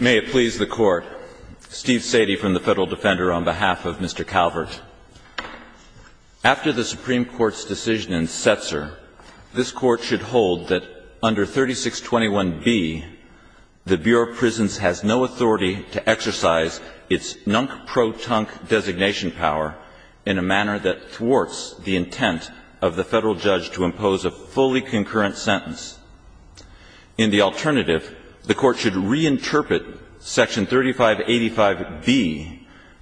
May it please the Court, Steve Sadie from the Federal Defender on behalf of Mr. Calvert. After the Supreme Court's decision in Setzer, this Court should hold that under 3621B, the Bureau of Prisons has no authority to exercise its nunk-pro-tunk designation power in a manner that thwarts the intent of the Federal judge to impose a fully concurrent sentence. In the alternative, the Court should reinterpret Section 3585B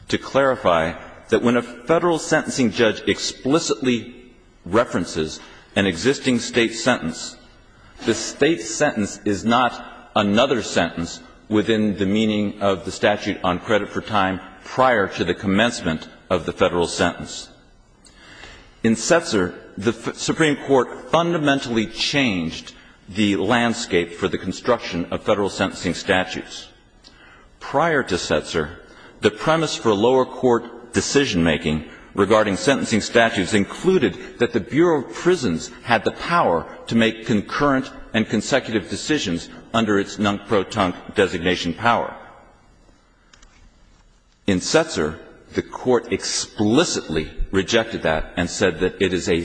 to clarify that when a Federal sentencing judge explicitly references an existing state sentence, the state sentence is not another sentence within the meaning of the statute on credit for time prior to the commencement of the Federal sentence. In Setzer, the Supreme Court fundamentally changed the landscape for the construction of Federal sentencing statutes. Prior to Setzer, the premise for lower court decision-making regarding sentencing statutes included that the Bureau of Prisons had the power to make concurrent and consecutive decisions under its nunk-pro-tunk designation power. In Setzer, the Court explicitly rejected that and said that it is a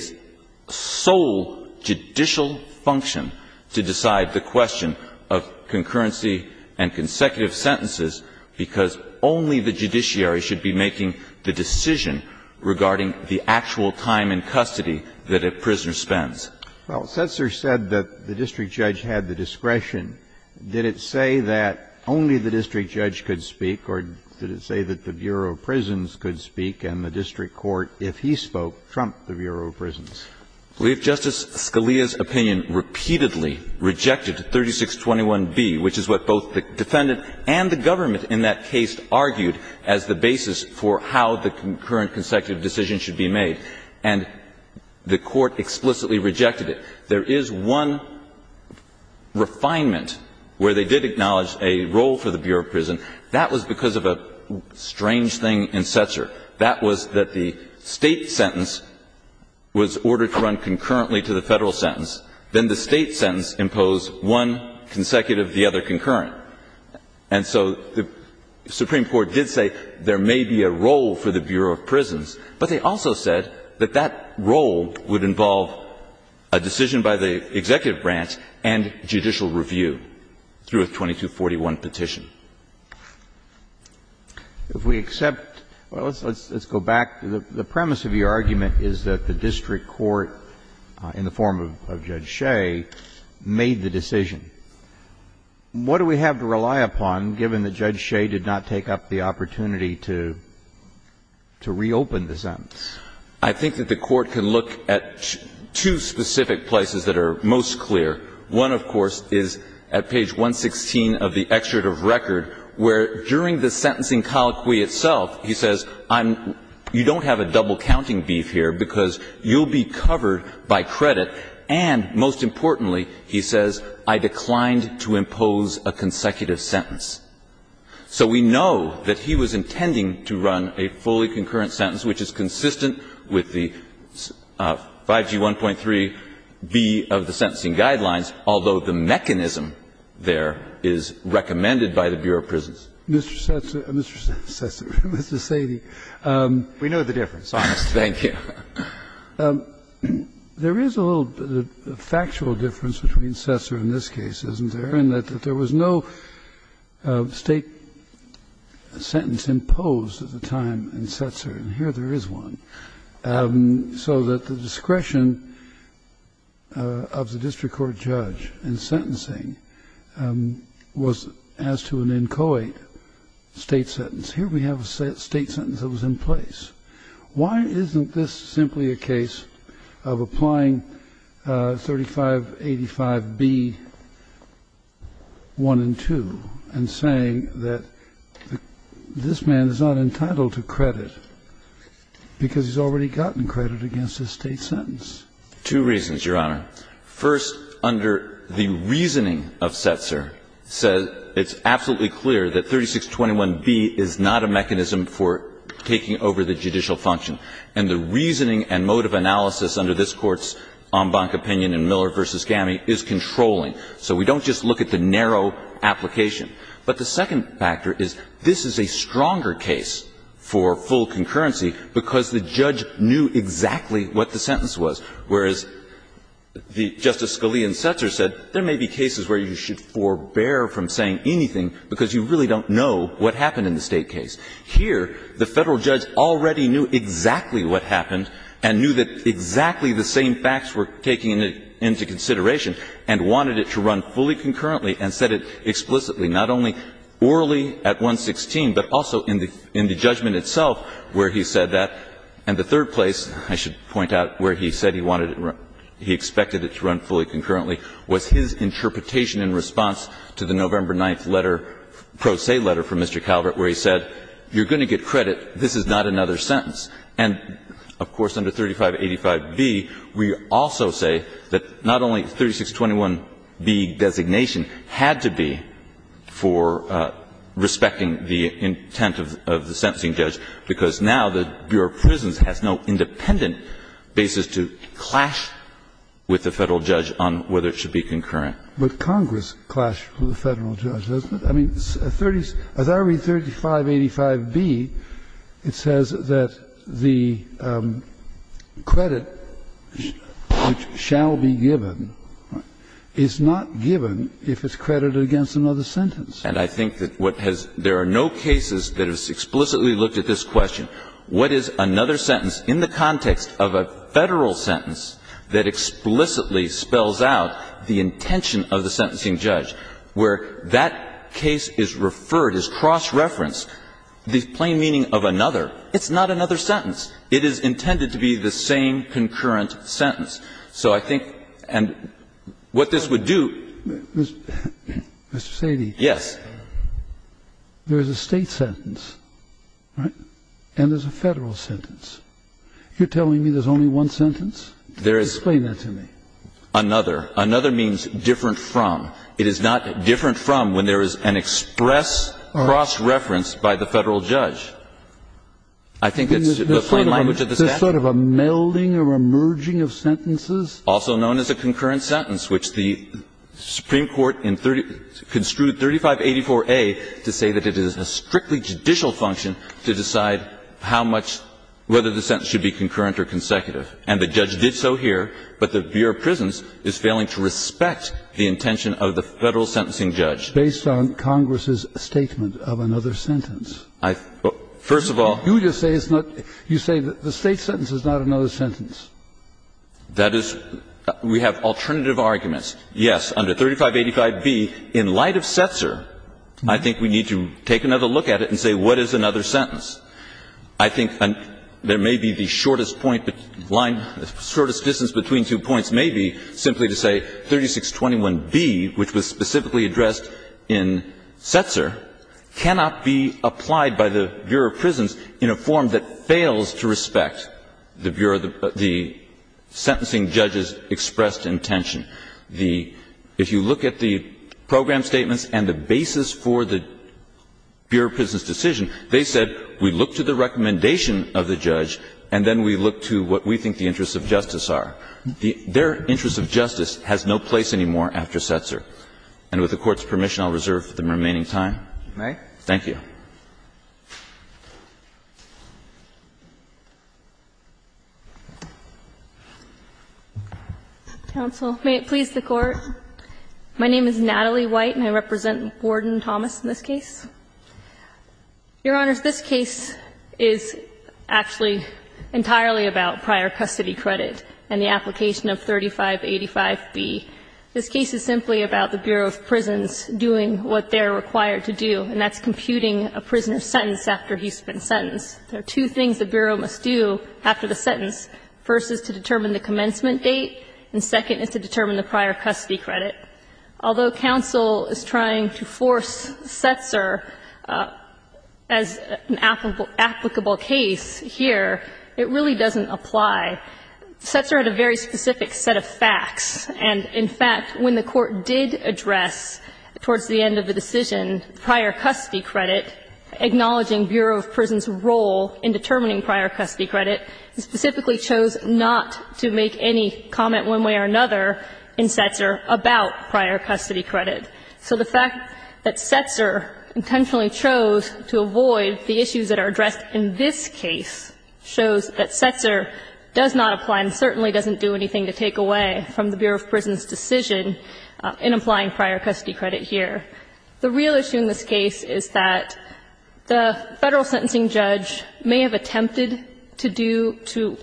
sole judicial function to decide the question of concurrency and consecutive sentences because only the judiciary should be making the decision regarding the actual time in custody that a prisoner spends. Well, Setzer said that the district judge had the discretion. Did it say that only the district judge could speak, or did it say that the Bureau of Prisons could speak and the district court, if he spoke, trumped the Bureau of Prisons? I believe Justice Scalia's opinion repeatedly rejected 3621B, which is what both the defendant and the government in that case argued as the basis for how the concurrent consecutive decision should be made. And the Court explicitly rejected it. There is one refinement where they did acknowledge a role for the Bureau of Prisons. That was because of a strange thing in Setzer. That was that the State sentence was ordered to run concurrently to the Federal sentence. Then the State sentence imposed one consecutive, the other concurrent. And so the Supreme Court did say there may be a role for the Bureau of Prisons, but they also said that that role would involve a decision by the executive branch and judicial review through a 2241 petition. If we accept – well, let's go back. The premise of your argument is that the district court in the form of Judge Shea made the decision. What do we have to rely upon, given that Judge Shea did not take up the opportunity to reopen the sentence? I think that the Court can look at two specific places that are most clear. One, of course, is at page 116 of the excerpt of record, where during the sentencing colloquy itself, he says, I'm – you don't have a double counting beef here because you'll be covered by credit, and most importantly, he says, I declined to impose a consecutive sentence. So we know that he was intending to run a fully concurrent sentence, which is consistent with the 5G1.3b of the sentencing guidelines, although the mechanism there is recommended by the Bureau of Prisons. Mr. Sesser – Mr. Sesser, Mr. Sadie. We know the difference. Thank you. There is a little factual difference between Sesser in this case, isn't there, in that there was no State sentence imposed at the time in Sesser, and here there is one, so that the discretion of the district court judge in sentencing was as to an inchoate State sentence. Here we have a State sentence that was in place. Why isn't this simply a case of applying 3585b, 1 and 2, and saying that this man is not entitled to credit because he's already gotten credit against a State sentence? Two reasons, Your Honor. First, under the reasoning of Sesser, it's absolutely clear that 3621b is not a mechanism for taking over the judicial function, and the reasoning and mode of analysis under this Court's en banc opinion in Miller v. Gammey is controlling, so we don't just look at the narrow application. But the second factor is this is a stronger case for full concurrency because the judge knew exactly what the sentence was, whereas Justice Scalia in Sesser said there may be cases where you should forbear from saying anything because you really don't know what happened in the State case. Here, the Federal judge already knew exactly what happened and knew that exactly the same facts were taken into consideration and wanted it to run fully concurrently and said it explicitly, not only orally at 116, but also in the judgment itself where he said that. And the third place, I should point out, where he said he wanted it to run, he expected it to run fully concurrently, was his interpretation in response to the November 9th letter, pro se letter from Mr. Calvert, where he said you're going to get credit, this is not another sentence. And of course, under 3585b, we also say that not only 3621b designation had to be for respecting the intent of the sentencing judge, because now the Bureau of Prisons has no independent basis to clash with the Federal judge on whether it should be concurrent. But Congress clashed with the Federal judge, doesn't it? I mean, as I read 3585b, it says that the credit which shall be given is not given if it's credited against another sentence. And I think that what has – there are no cases that have explicitly looked at this question, what is another sentence in the context of a Federal sentence that explicitly spells out the intention of the sentencing judge, where that case is referred, is cross-referenced, the plain meaning of another, it's not another sentence. It is intended to be the same concurrent sentence. So I think – and what this would do – Mr. Sadie. Yes. There is a State sentence, right? And there's a Federal sentence. You're telling me there's only one sentence? Explain that to me. Another. Another means different from. It is not different from when there is an express cross-reference by the Federal judge. I think it's the plain language of the statute. There's sort of a melding or a merging of sentences? Also known as a concurrent sentence, which the Supreme Court in – construed 3584A to say that it is a strictly judicial function to decide how much – whether the sentence should be concurrent or consecutive. And the judge did so here, but the Bureau of Prisons is failing to respect the intention of the Federal sentencing judge. Based on Congress's statement of another sentence. I – first of all. You just say it's not – you say the State sentence is not another sentence. That is – we have alternative arguments. Yes, under 3585B, in light of Setzer, I think we need to take another look at it and say what is another sentence. I think there may be the shortest point – the shortest distance between two points may be simply to say 3621B, which was specifically addressed in Setzer, cannot be applied by the Bureau of Prisons in a form that fails to respect the Bureau of – the sentencing judge's expressed intention. The – if you look at the program statements and the basis for the Bureau of Prisons decision, they said we look to the recommendation of the judge, and then we look to what we think the interests of justice are. Their interest of justice has no place anymore after Setzer. And with the Court's permission, I'll reserve the remaining time. Thank you. White, and I represent Warden Thomas in this case. Your Honors, this case is actually entirely about prior custody credit and the application of 3585B. This case is simply about the Bureau of Prisons doing what they're required to do, and that's computing a prisoner's sentence after he's been sentenced. There are two things the Bureau must do after the sentence. First is to determine the commencement date, and second is to determine the prior custody credit. Although counsel is trying to force Setzer as an applicable case here, it really doesn't apply. Setzer had a very specific set of facts. And, in fact, when the Court did address, towards the end of the decision, prior custody credit, acknowledging Bureau of Prisons' role in determining prior custody credit, it specifically chose not to make any comment one way or another in Setzer about prior custody credit. So the fact that Setzer intentionally chose to avoid the issues that are addressed in this case shows that Setzer does not apply and certainly doesn't do anything to take away from the Bureau of Prisons' decision in applying prior custody credit here. The real issue in this case is that the Federal sentencing judge may have attempted to do to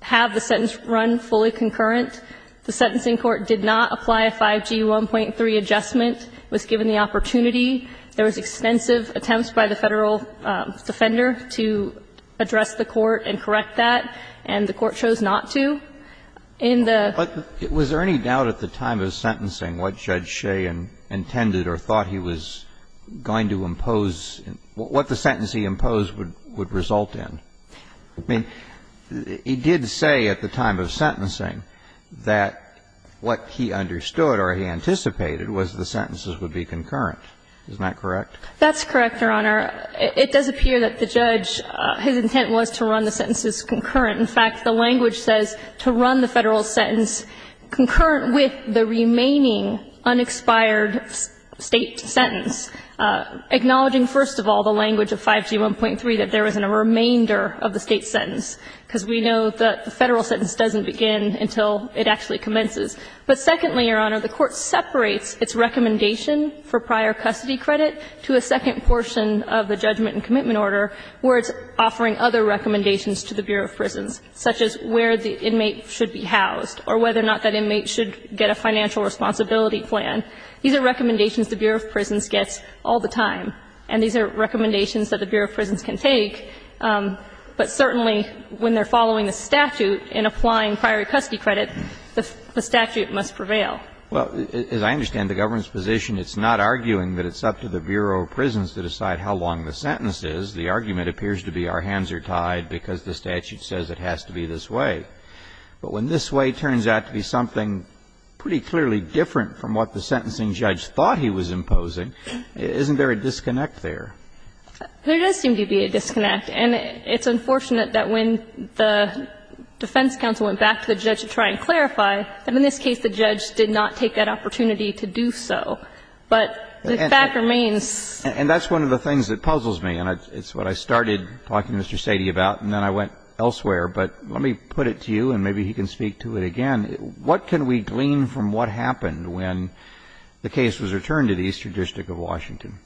have the sentence run fully concurrent. The sentencing court did not apply a 5G1.3 adjustment, was given the opportunity. There was extensive attempts by the Federal defender to address the court and correct that, and the Court chose not to. In the ---- But was there any doubt at the time of sentencing what Judge Shea intended or thought he was going to impose, what the sentence he imposed would result in? I mean, he did say at the time of sentencing that what he understood or he anticipated was the sentences would be concurrent. Isn't that correct? That's correct, Your Honor. It does appear that the judge, his intent was to run the sentences concurrent. In fact, the language says to run the Federal sentence concurrent with the remaining unexpired State sentence, acknowledging, first of all, the language of 5G1.3, that there isn't a remainder of the State sentence, because we know that the Federal sentence doesn't begin until it actually commences. But secondly, Your Honor, the Court separates its recommendation for prior custody credit to a second portion of the judgment and commitment order where it's offering other recommendations to the Bureau of Prisons, such as where the inmate should be housed or whether or not that inmate should get a financial responsibility plan. These are recommendations the Bureau of Prisons gets all the time, and these are recommendations that the Bureau of Prisons can take, but certainly when they're following the statute in applying prior custody credit, the statute must prevail. Well, as I understand the government's position, it's not arguing that it's up to the Bureau of Prisons to decide how long the sentence is. The argument appears to be our hands are tied because the statute says it has to be this way. But when this way turns out to be something pretty clearly different from what the sentencing judge thought he was imposing, isn't there a disconnect there? There does seem to be a disconnect, and it's unfortunate that when the defense counsel went back to the judge to try and clarify, that in this case the judge did not take that opportunity to do so. But the fact remains. And that's one of the things that puzzles me, and it's what I started talking to Mr. Sady about, and then I went elsewhere. But let me put it to you, and maybe he can speak to it again. What can we glean from what happened when the case was returned to the Eastern District of Washington?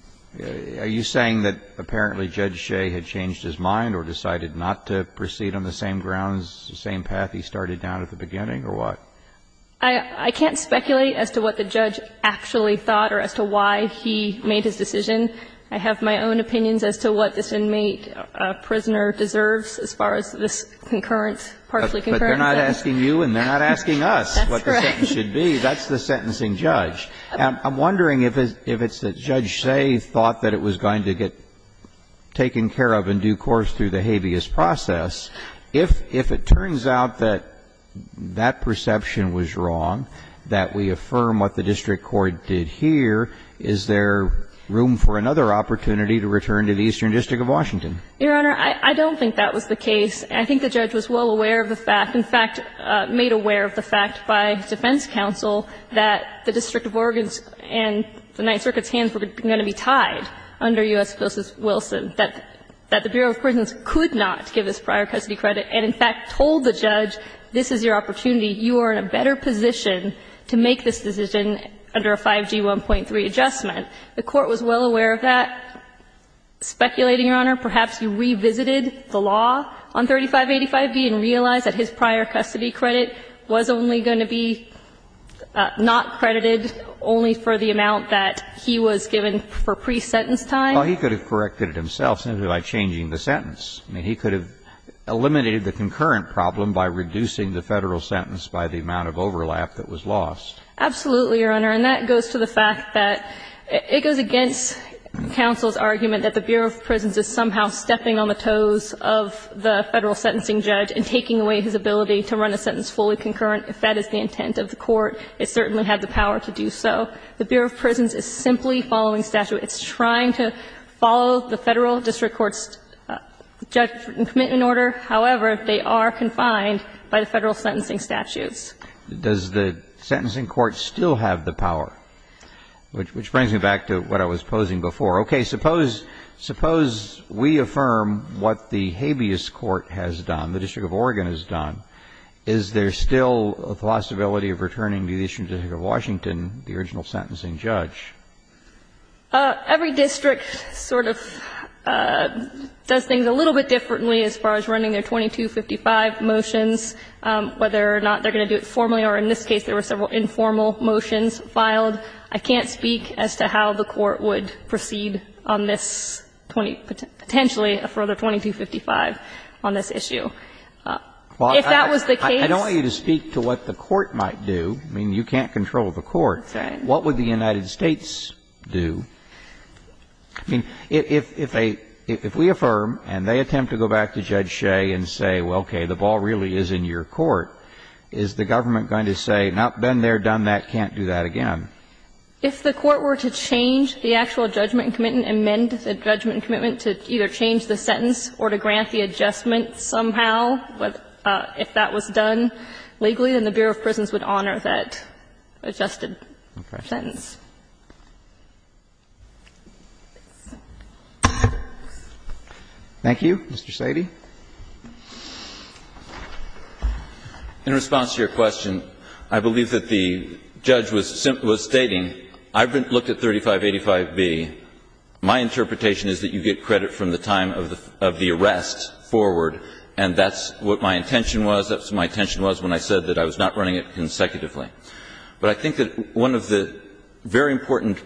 Are you saying that apparently Judge Shea had changed his mind or decided not to proceed on the same grounds, the same path he started down at the beginning, or what? I can't speculate as to what the judge actually thought or as to why he made his decision I have my own opinions as to what this inmate, prisoner deserves as far as this concurrent, partially concurrent. But they're not asking you and they're not asking us what the sentence should be. That's the sentencing judge. I'm wondering if it's that Judge Shea thought that it was going to get taken care of in due course through the habeas process, if it turns out that that perception was wrong, that we affirm what the district court did here, is there room for a second for another opportunity to return to the Eastern District of Washington? Your Honor, I don't think that was the case. I think the judge was well aware of the fact, in fact, made aware of the fact by defense counsel that the District of Oregon's and the Ninth Circuit's hands were going to be tied under U.S. Wilson, that the Bureau of Prisons could not give this prior custody credit and, in fact, told the judge, this is your opportunity, you are in a better position to make this decision under a 5G 1.3 adjustment. The court was well aware of that, speculating, Your Honor, perhaps you revisited the law on 3585B and realized that his prior custody credit was only going to be not credited only for the amount that he was given for pre-sentence time. Well, he could have corrected it himself simply by changing the sentence. I mean, he could have eliminated the concurrent problem by reducing the Federal sentence by the amount of overlap that was lost. Absolutely, Your Honor. And that goes to the fact that it goes against counsel's argument that the Bureau of Prisons is somehow stepping on the toes of the Federal sentencing judge and taking away his ability to run a sentence fully concurrent, if that is the intent of the court. It certainly had the power to do so. The Bureau of Prisons is simply following statute. It's trying to follow the Federal district court's judgment and commitment order. However, they are confined by the Federal sentencing statutes. Does the sentencing court still have the power? Which brings me back to what I was posing before. Okay. Suppose we affirm what the habeas court has done, the District of Oregon has done. Is there still a possibility of returning the issue to the District of Washington, the original sentencing judge? Every district sort of does things a little bit differently as far as running their own sentencing. And I'm not going to speak to formally, or in this case, there were several informal motions filed. I can't speak as to how the court would proceed on this, potentially, for the 2255 on this issue. If that was the case to what the court might do, I mean, you can't control the court. That's right. What would the United States do? I mean, if a – if we affirm and they attempt to go back to Judge Shea and say, well, okay, the ball really is in your court, is the government going to say, not been there, done that, can't do that again? If the court were to change the actual judgment and commitment, amend the judgment and commitment to either change the sentence or to grant the adjustment somehow, if that was done legally, then the Bureau of Prisons would honor that adjustment. No questions. Thank you. Mr. Sady. In response to your question, I believe that the judge was stating, I've looked at 3585B. My interpretation is that you get credit from the time of the arrest forward, and that's what my intention was. That's what my intention was when I said that I was not running it consecutively. But I think that one of the very important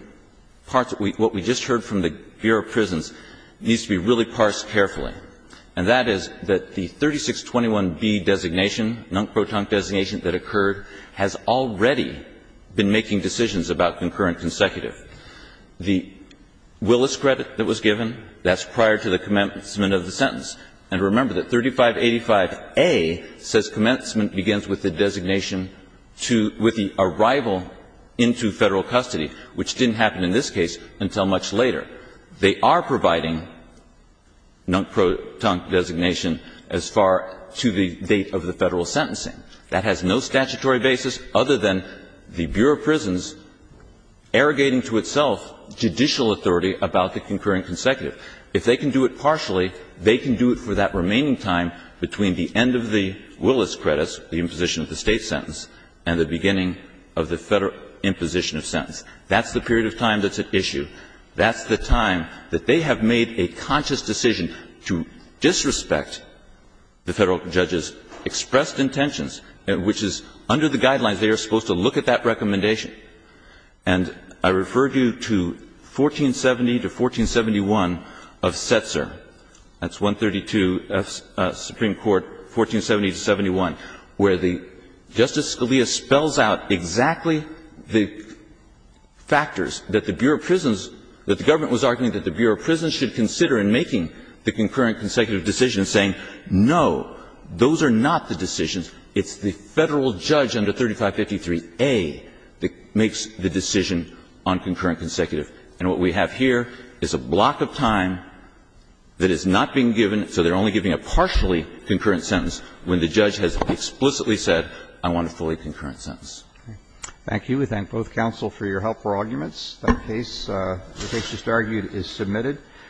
parts of what we just heard from the Bureau of Prisons needs to be really parsed carefully, and that is that the 3621B designation, NUNC PROTONC designation that occurred, has already been making decisions about concurrent consecutive. The Willis credit that was given, that's prior to the commencement of the sentence. And remember that 3585A says commencement begins with the designation to the arrival into Federal custody, which didn't happen in this case until much later. They are providing NUNC PROTONC designation as far to the date of the Federal sentencing. That has no statutory basis other than the Bureau of Prisons arrogating to itself judicial authority about the concurrent consecutive. If they can do it partially, they can do it for that remaining time between the end of the Willis credits, the imposition of the State sentence, and the beginning of the Federal imposition of sentence. That's the period of time that's at issue. That's the time that they have made a conscious decision to disrespect the Federal judge's expressed intentions, which is under the guidelines they are supposed to look at that recommendation. And I refer you to 1470 to 1471 of Setzer, that's 132, Supreme Court, 1470 to 71, where the Justice Scalia spells out exactly the factors that the Bureau of Prisons, that the government was arguing that the Bureau of Prisons should consider in making the concurrent consecutive decision, saying, no, those are not the decisions, it's the Federal judge under 3553a that makes the decision on concurrent consecutive. And what we have here is a block of time that is not being given, so they are only giving a partially concurrent sentence, when the judge has explicitly said, I want a fully concurrent sentence. Roberts. Thank you. We thank both counsel for your help for arguments. The case, the case just argued, is submitted.